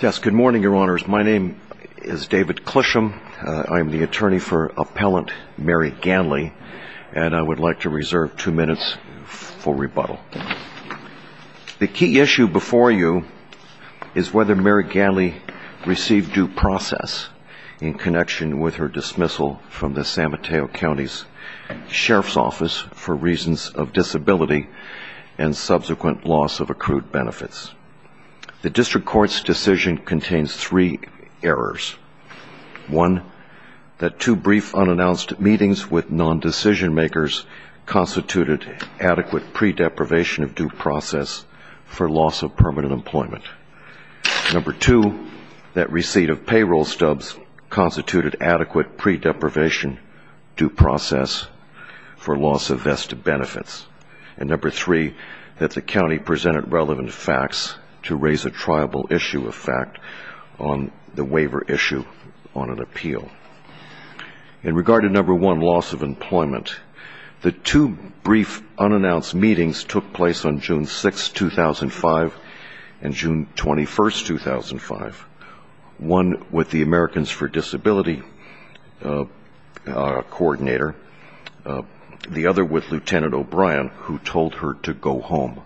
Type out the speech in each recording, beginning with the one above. yes good morning your honors my name is David Clisham I am the attorney for appellant Mary Ganley and I would like to reserve two minutes for rebuttal the key issue before you is whether Mary Ganley received due process in connection with her dismissal from the San Mateo County Sheriff's Office for reasons of disability and subsequent loss of accrued benefits the district court's decision contains three errors one that two brief unannounced meetings with non decision-makers constituted adequate pre-deprivation of due process for loss of permanent employment number two that receipt of payroll stubs constituted adequate pre-deprivation due process for loss of vested benefits and number three that the county presented relevant facts to raise a triable issue of fact on the waiver issue on an appeal in regard to number one loss of employment the two brief unannounced meetings took place on June 6 2005 and June 21st 2005 one with the Americans for Disability coordinator the other with lieutenant O'Brien who told her to go home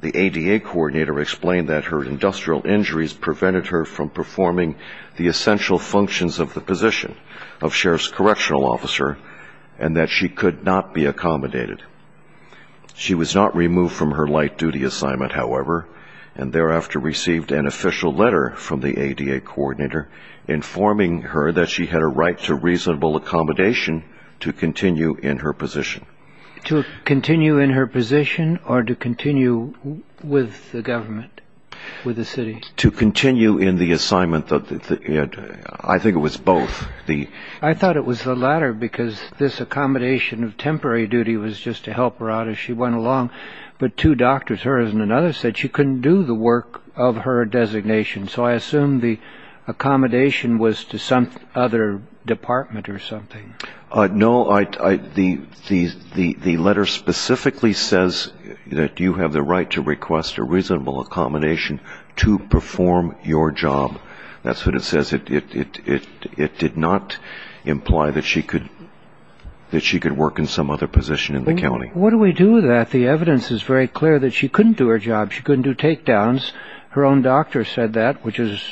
the ADA coordinator explained that her industrial injuries prevented her from performing the essential functions of the position of sheriff's correctional officer and that she could not be accommodated she was not removed from her light duty assignment however and thereafter received an official letter from the ADA coordinator informing her that she had a right to reasonable accommodation to continue in her position to continue in her position or to continue with the government with the city to continue in the assignment that I think it was both the I thought it was the latter because this accommodation of temporary duty was just to help her out as she went along but two doctors her and another said she couldn't do the work of her designation so I assume the accommodation was to some other department or something no I the letter specifically says that you have the right to request a reasonable accommodation to perform your job that's what it says it did not imply that she could that she could work in some other position in the county what do we do that the evidence is very clear that she couldn't do her job she couldn't do takedowns her own doctor said that which is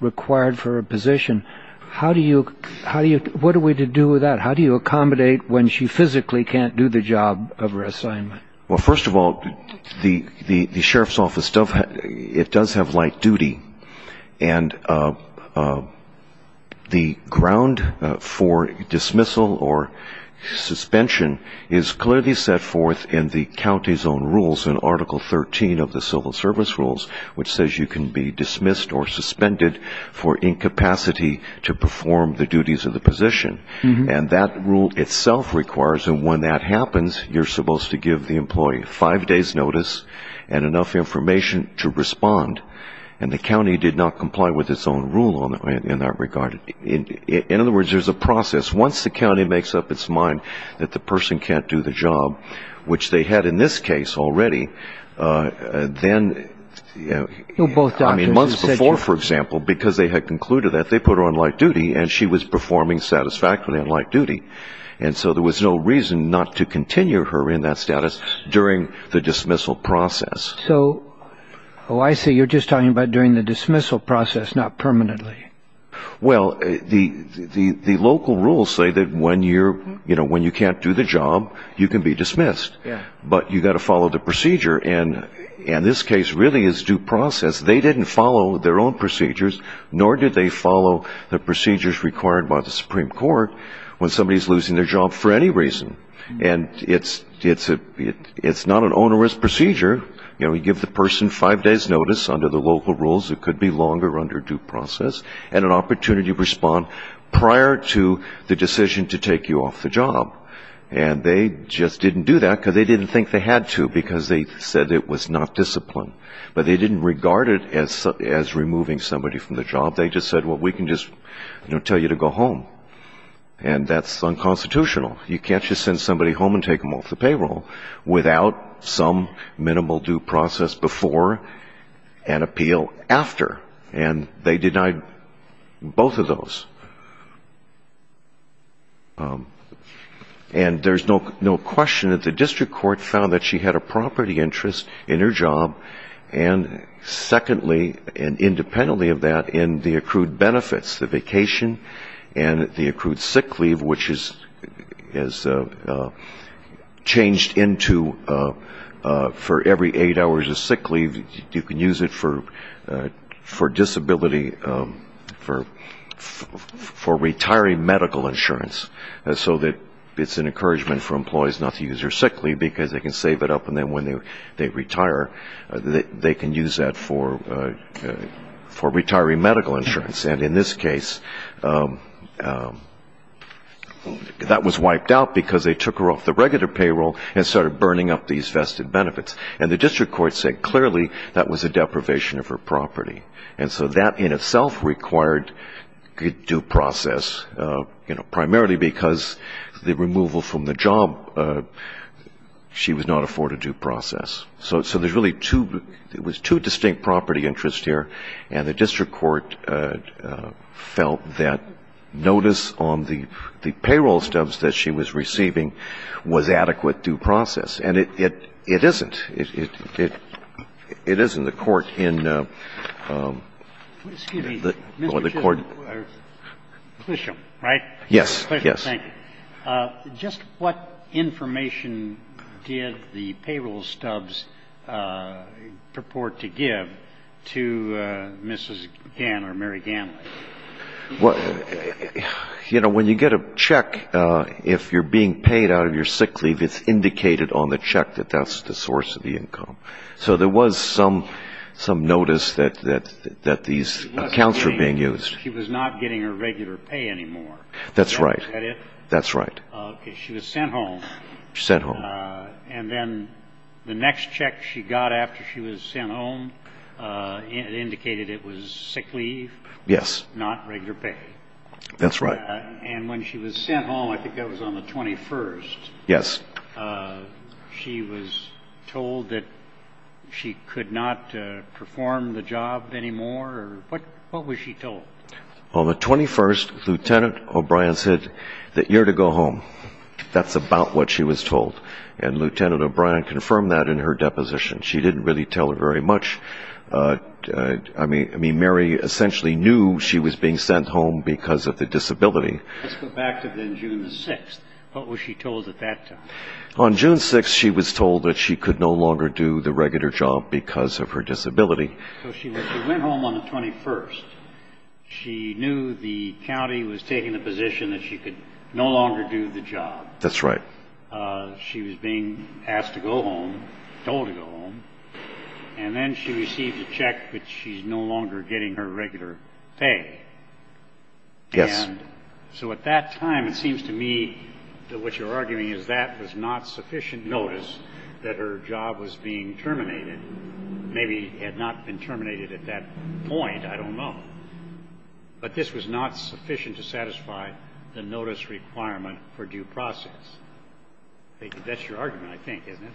required for a position how do you how do you what do we do with that how do you accommodate when she physically can't do the job of her assignment well first of all the the sheriff's office stuff it does have light duty and the ground for dismissal or suspension is clearly set forth in the county's own rules in article 13 of the civil service rules which says you can be dismissed or suspended for incapacity to perform the duties of the position and that rule itself requires and when that happens you're supposed to give the employee five days notice and enough information to respond and the county did not comply with its own rule on that in that regard in other words there's a process once the county makes up its mind that the person can't do the job which they had in this case already then for example because they had concluded that they put on light duty and she was performing satisfactorily on light duty and so there was no reason not to continue her in that status during the dismissal process so I see you're just talking about during the dismissal process not permanently well the local rules say that when you're you know when you can't do the job you can be dismissed but you got to follow the procedure and in this case really is due process they didn't follow their own procedures nor did they follow the procedures required by the Supreme Court when somebody's losing their job for any reason and it's it's a it's not an onerous procedure you know we give the person five days notice under the local rules it could be longer under due process and an opportunity to respond prior to the decision to take you off the job and they just didn't do that because they didn't think they had to because they said it was not discipline but they didn't regard it as as removing somebody from the job they just said what we can just you know tell you to go home and that's unconstitutional you can't just send somebody home and take them off the payroll without some minimal due process before and appeal after and they denied both of those and there's no no question that the district court found that she had a property interest in her job and secondly and independently of that in the accrued benefits the vacation and the accrued sick leave which is changed into for every eight hours of sick leave you can use it for for disability for for retiring medical insurance and so that it's an encouragement for employees not to use your sick leave because they can save it up and then when they they retire they can use that for for retiring medical insurance and in this case that was wiped out because they took her off the regular payroll and started burning up these vested benefits and the district court said clearly that was a deprivation of her property and so that in itself required due process you know primarily because the removal from the job she was not afforded due process so so there's really two it was two distinct property interest here and the district court felt that notice on the the payroll stubs that she was receiving was adequate due process and it it it isn't it it it is in the court in the court yes yes just what information did the payroll stubs purport to give to mrs. you know when you get a check if you're being paid out of your sick leave it's indicated on the check that that's the source of the income so there was some some notice that that that these accounts were being used that's right that's right she was sent home sent home and then the next check she got after she was sent home it indicated it was sick leave yes not regular pay that's right and when she was sent home I think that was on the 21st yes she was told that she could not perform the job anymore what what was she told on the 21st lieutenant O'Brien said that you're to go home that's about what she was told very much I mean I mean Mary essentially knew she was being sent home because of the disability on June 6 she was told that she could no longer do the regular job because of her disability she knew the county was taking the position that she could no longer do the job that's right she was being asked to home told to go home and then she received a check but she's no longer getting her regular pay yes so at that time it seems to me that what you're arguing is that was not sufficient notice that her job was being terminated maybe had not been terminated at that point I don't know but this was not sufficient to satisfy the notice requirement for due process that's your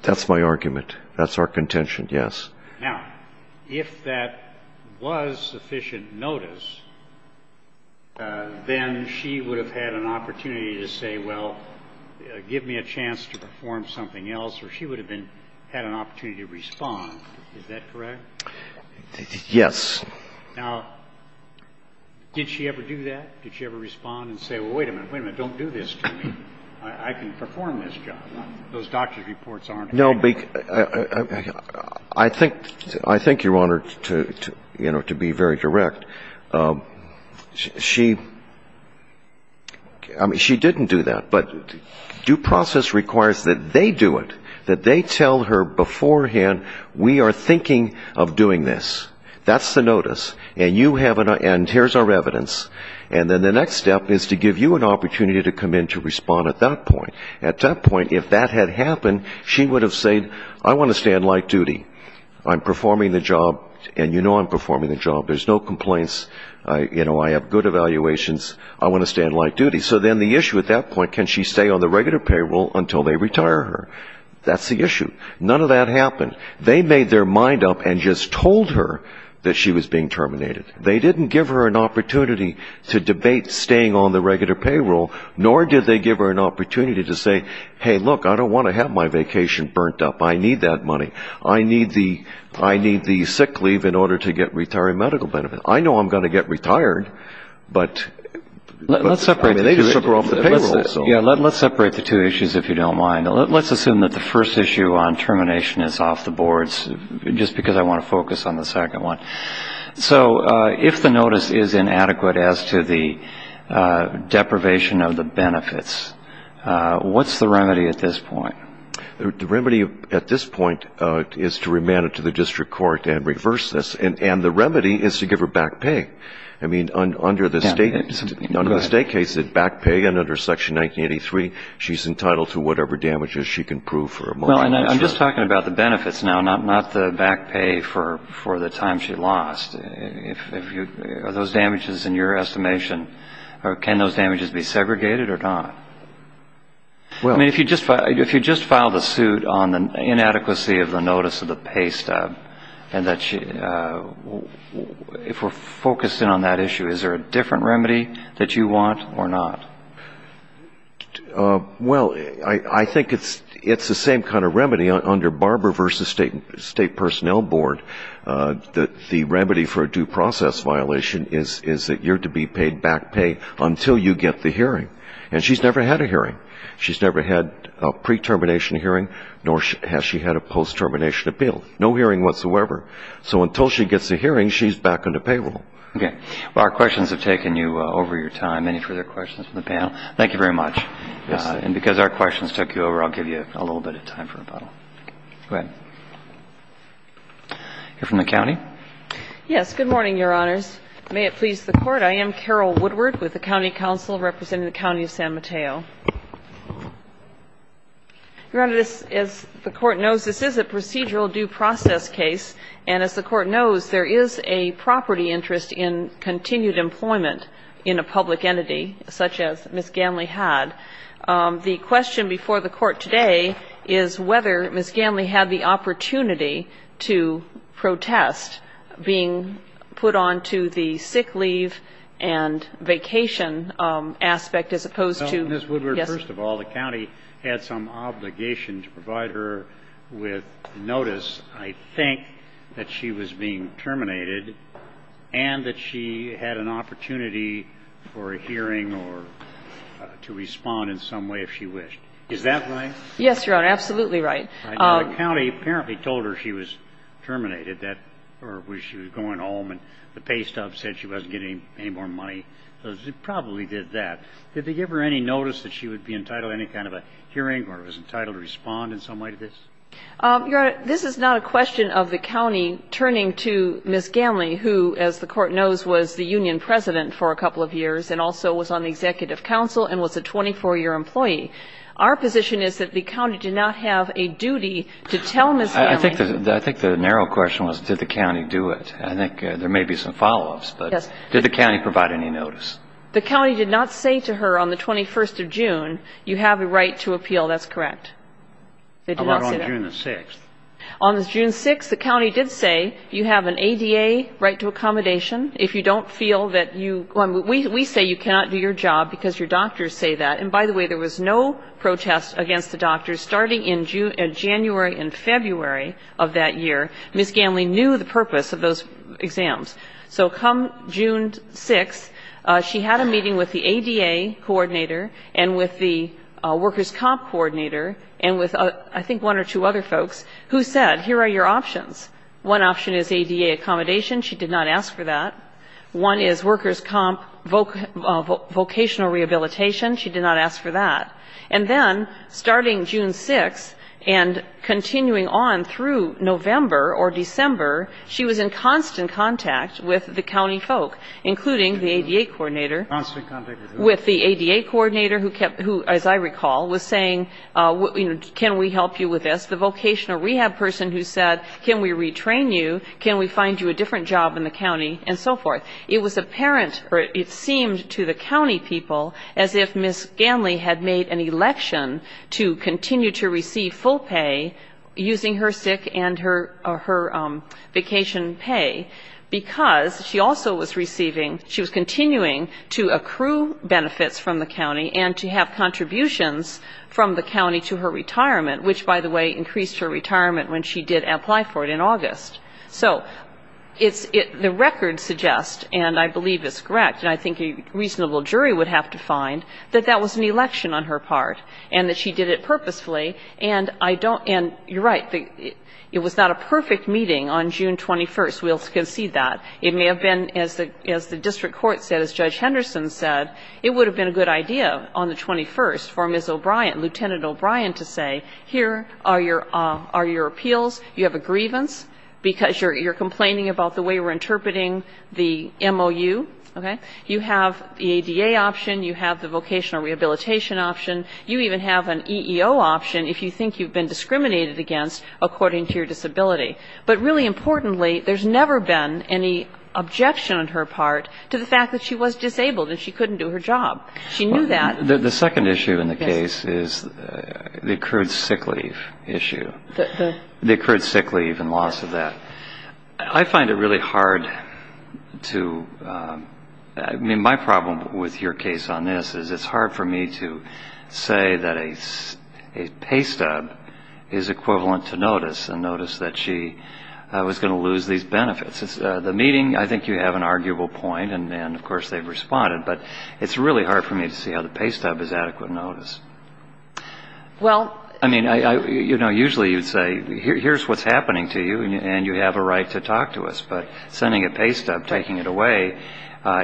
that's my argument that's our contention yes now if that was sufficient notice then she would have had an opportunity to say well give me a chance to perform something else or she would have been had an opportunity to respond yes now did she ever do that did she ever respond and say wait a minute women I can perform this job those doctors reports aren't no big I think I think your honor to you know to be very direct she I mean she didn't do that but due process requires that they do it that they tell her beforehand we are thinking of doing this that's the notice and you have an end here's our evidence and then the next step is to give you an opportunity to come in to respond at that point at that point if that had happened she would have said I want to stay in light duty I'm performing the job and you know I'm performing the job there's no complaints you know I have good evaluations I want to stay in light duty so then the issue at that point can she stay on the regular payroll until they retire her that's the issue none of that happened they made their mind up and just told her that she was being terminated they didn't give her an opportunity to debate staying on the regular payroll nor did they give her an opportunity to say hey look I don't want to have my vacation burnt up I need that money I need the I need the sick leave in order to get retired medical benefit I know I'm going to get retired but let's separate the two issues if you don't mind let's assume that the first issue on termination is off the boards just because I want to focus on the second one so if the notice is inadequate as to the deprivation of the benefits what's the remedy at this point the remedy at this point is to remand it to the district court and reverse this and and the remedy is to give her back pay I mean under the state under the state case it back pay and under section 1983 she's entitled to whatever damages she can prove for well and I'm just talking about the benefits now not not the back pay for for the time she lost if you are those damages in your estimation or can those damages be segregated or not well if you just if you just filed a suit on the inadequacy of the notice of the pay stub and that she if we're focused in on that issue is there a different remedy that you want or not well I I think it's it's the same kind of remedy under barber versus state state personnel board that the remedy for a due process violation is is that you're to be paid back pay until you get the hearing and she's never had a hearing she's never had a pre-termination hearing nor has she had a post termination appeal no hearing whatsoever so until she gets a hearing she's back in the payroll okay our questions have taken you over your time any further questions from the panel thank you very much and because our you're from the county yes good morning your honors may it please the court I am carol woodward with the county council representing the county of san mateo your honor this is the court knows this is a procedural due process case and as the court knows there is a property interest in continued employment in a public entity such as miss ganley had the question before the court today is whether miss ganley had the opportunity to protest being put on to the sick leave and vacation aspect as opposed to this woodward first of all the county had some obligation to provide her with notice I think that she was being terminated and that she had an opportunity for a hearing or to respond in some way if she wished is that right yes your honor absolutely right county apparently told her she was terminated that or was she was going home and the pay stuff said she wasn't getting any more money so she probably did that did they give her any notice that she would be entitled any kind of a hearing or was entitled to respond in some way to this your honor this is not a question of the county turning to miss ganley who as the court knows was the union president for a couple of years and also was on the executive council and was a 24 year employee our position is that the county did not have a duty to tell miss I think that I think the narrow question was did the county do it I think there may be some follow-ups but yes did the county provide any notice the county did not say to her on the 21st of June you have a right to appeal that's correct they did not say that on June 6th the county did say you have an ADA right to we say you cannot do your job because your doctors say that and by the way there was no protest against the doctors starting in June and January and February of that year miss ganley knew the purpose of those exams so come June 6 she had a meeting with the ADA coordinator and with the workers comp coordinator and with a I think one or two other folks who said here are your options one option is ADA accommodation she did not ask for that one is workers comp vocational rehabilitation she did not ask for that and then starting June 6 and continuing on through November or December she was in constant contact with the county folk including the ADA coordinator with the ADA coordinator who kept who as I recall was saying what can we help you with this the vocational rehab person who said can we retrain you can we find you a different job in the it seemed to the county people as if miss ganley had made an election to continue to receive full pay using her sick and her vacation pay because she also was receiving she was continuing to accrue benefits from the county and to have contributions from the county to her retirement which by the way increased her retirement when she did apply for it in August so it's it the records suggest and I believe it's correct and I think a reasonable jury would have to find that that was an election on her part and that she did it purposefully and I don't and you're right it was not a perfect meeting on June 21st we'll concede that it may have been as the as the district court said as judge Henderson said it would have been a good idea on the 21st for miss O'Brien lieutenant O'Brien to say here are your are your appeals you have a the MOU okay you have the ADA option you have the vocational rehabilitation option you even have an EEO option if you think you've been discriminated against according to your disability but really importantly there's never been any objection on her part to the fact that she was disabled and she couldn't do her job she knew that the second issue in the case is the accrued sick I find it really hard to I mean my problem with your case on this is it's hard for me to say that a pay stub is equivalent to notice and notice that she was going to lose these benefits it's the meeting I think you have an arguable point and then of course they've responded but it's really hard for me to see how the pay stub is adequate notice well I mean I you know usually you'd say here's what's happening to you and you have a right to talk to us but sending a pay stub taking it away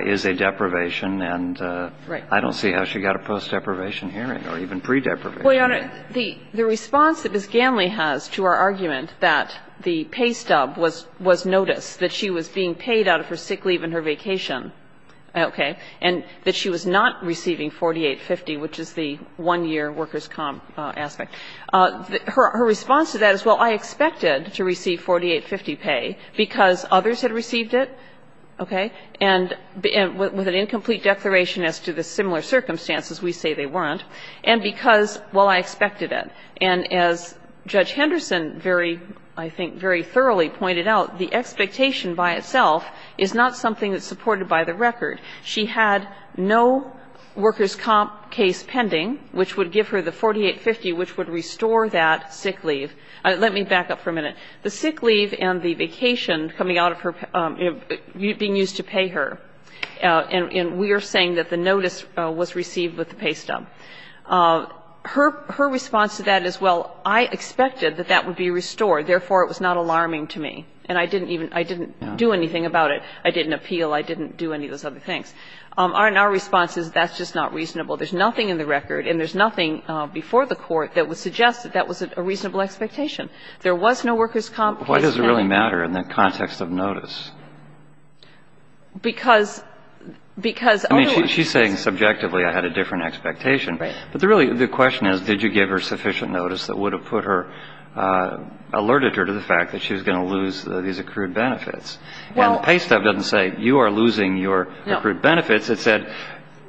is a deprivation and I don't see how she got a post deprivation hearing or even pre-deprivation the response that Ms. Ganley has to our argument that the pay stub was was notice that she was being paid out of her sick leave and her vacation okay and that she was not receiving 4850 which is the one year workers comp aspect her response to that is well I expected to receive 4850 pay because others had received it okay and with an incomplete declaration as to the similar circumstances we say they weren't and because well I expected it and as Judge Henderson very I think very thoroughly pointed out the expectation by itself is not something that's supported by the give her the 4850 which would restore that sick leave I let me back up for a minute the sick leave and the vacation coming out of her being used to pay her and we are saying that the notice was received with the pay stub her her response to that as well I expected that that would be restored therefore it was not alarming to me and I didn't even I didn't do anything about it I didn't appeal I didn't do any of those other things aren't our responses that's just not reasonable there's nothing in the record and there's nothing before the court that would suggest that that was a reasonable expectation there was no workers comp why does it really matter in the context of notice because because she's saying subjectively I had a different expectation but the really the question is did you give her sufficient notice that would have put her alerted her to the fact that she was going to lose these accrued benefits well pay stuff doesn't say you are losing your accrued benefits it said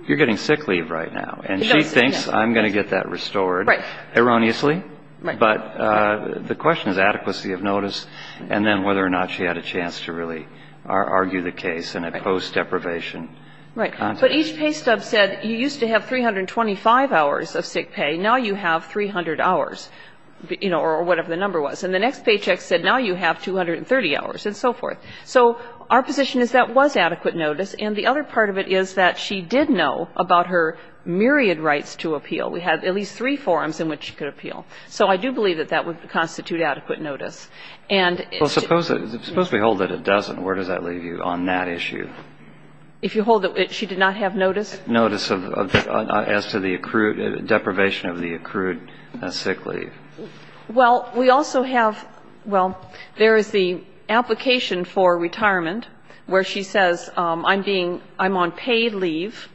you're getting sick leave right now and she thinks I'm going to get that restored right erroneously but the question is adequacy of notice and then whether or not she had a chance to really argue the case and a post deprivation right but each pay stub said you used to have 325 hours of sick pay now you have 300 hours you know or whatever the number was and the next paycheck said now you have 230 hours and so forth so our position is that was adequate notice and the other part of it is that she did know about her myriad rights to appeal we had at least three forums in which she could appeal so I do believe that that would constitute adequate notice and suppose suppose we hold that it doesn't where does that leave you on that issue if you hold it she did not have notice notice of as to the accrued deprivation of the accrued sick leave well we also have well there is the application for retirement where she says I'm being I'm on paid leave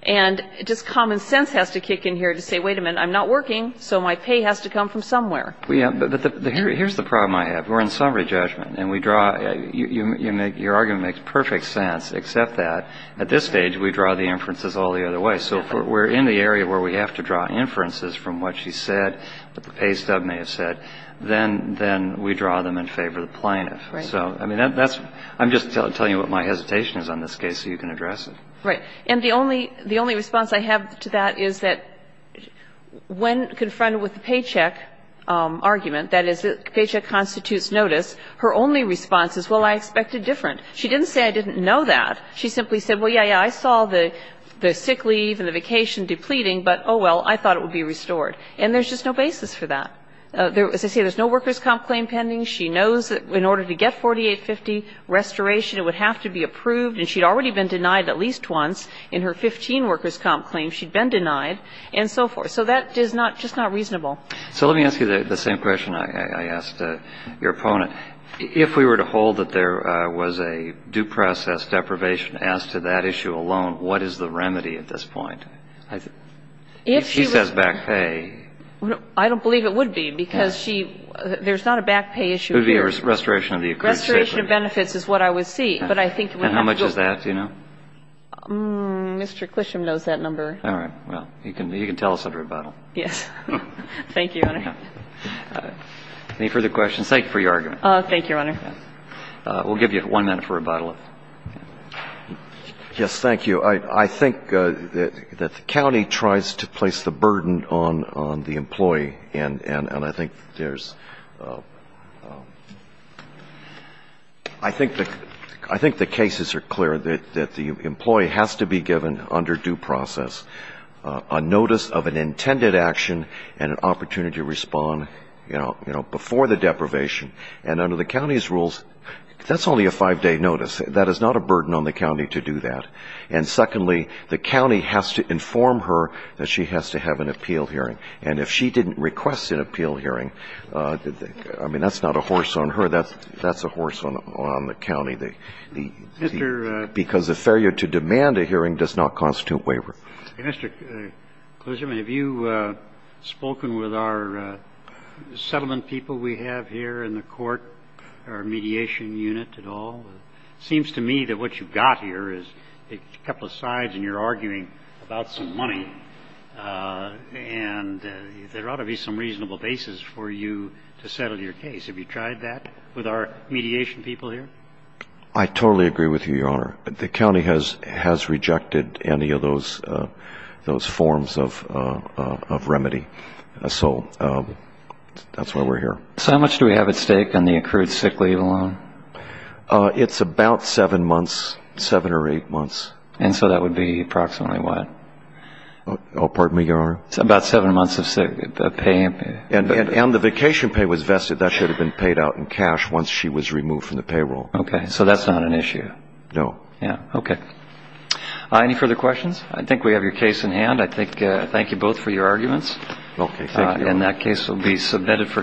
and just common sense has to kick in here to say wait a minute I'm not working so my pay has to come from somewhere yeah but here's the problem I have we're in summary judgment and we draw you make your argument makes perfect sense except that at this stage we draw the inferences all the other way so we're in the area where we have to draw inferences from what she said but the pay stub may have said then then we draw them in favor the plaintiff so I mean that's I'm just telling you what my hesitation is on this case so you can address it right and the only the only response I have to that is that when confronted with the paycheck argument that is the paycheck constitutes notice her only response is well I expected different she didn't say I didn't know that she simply said well yeah I saw the the sick leave and the vacation depleting but oh well I thought it would be restored and there's just no basis for that there as I say there's no workers comp claim pending she knows that in order to get 4850 restoration it would have to be approved and she'd already been denied at least once in her 15 workers comp claim she'd been denied and so forth so that is not just not reasonable so let me ask you the same question I asked your opponent if we were to hold that there was a due process deprivation as to that issue alone what is the remedy at this point I think if she says back hey I don't believe it would be because she there's not a back pay issue the restoration of the benefits is what I would see but I think how much is that you know mr. Clisham knows that number all right well you can you can tell us a rebuttal yes thank you any further questions thank you for your argument thank you honor we'll give you one minute for rebuttal yes thank you I think that the county tries to place the burden on on the employee and and I think there's I think that I think the cases are clear that that the employee has to be given under due process a notice of an intended action and an opportunity to respond you know you know before the deprivation and under the county's rules that's only a five-day notice that is not a burden on the the county has to inform her that she has to have an appeal hearing and if she didn't request an appeal hearing did they I mean that's not a horse on her that's that's a horse on on the county they because the failure to demand a hearing does not constitute waiver mr. have you spoken with our settlement people we have here in the court our mediation unit at all seems to me that what you got here is a couple of sides and you're arguing about some money and there ought to be some reasonable basis for you to settle your case have you tried that with our mediation people here I totally agree with you your honor the county has has rejected any of those those forms of remedy so that's why we're here so much do we have at stake on the accrued sick leave alone it's about seven months seven or eight months and so that would be approximately what oh pardon me your honor it's about seven months of sick pay and and the vacation pay was vested that should have been paid out in cash once she was removed from the payroll okay so that's not an issue no yeah okay any further questions I think we have your case in hand I think thank you both for your arguments okay and that case will be submitted for decision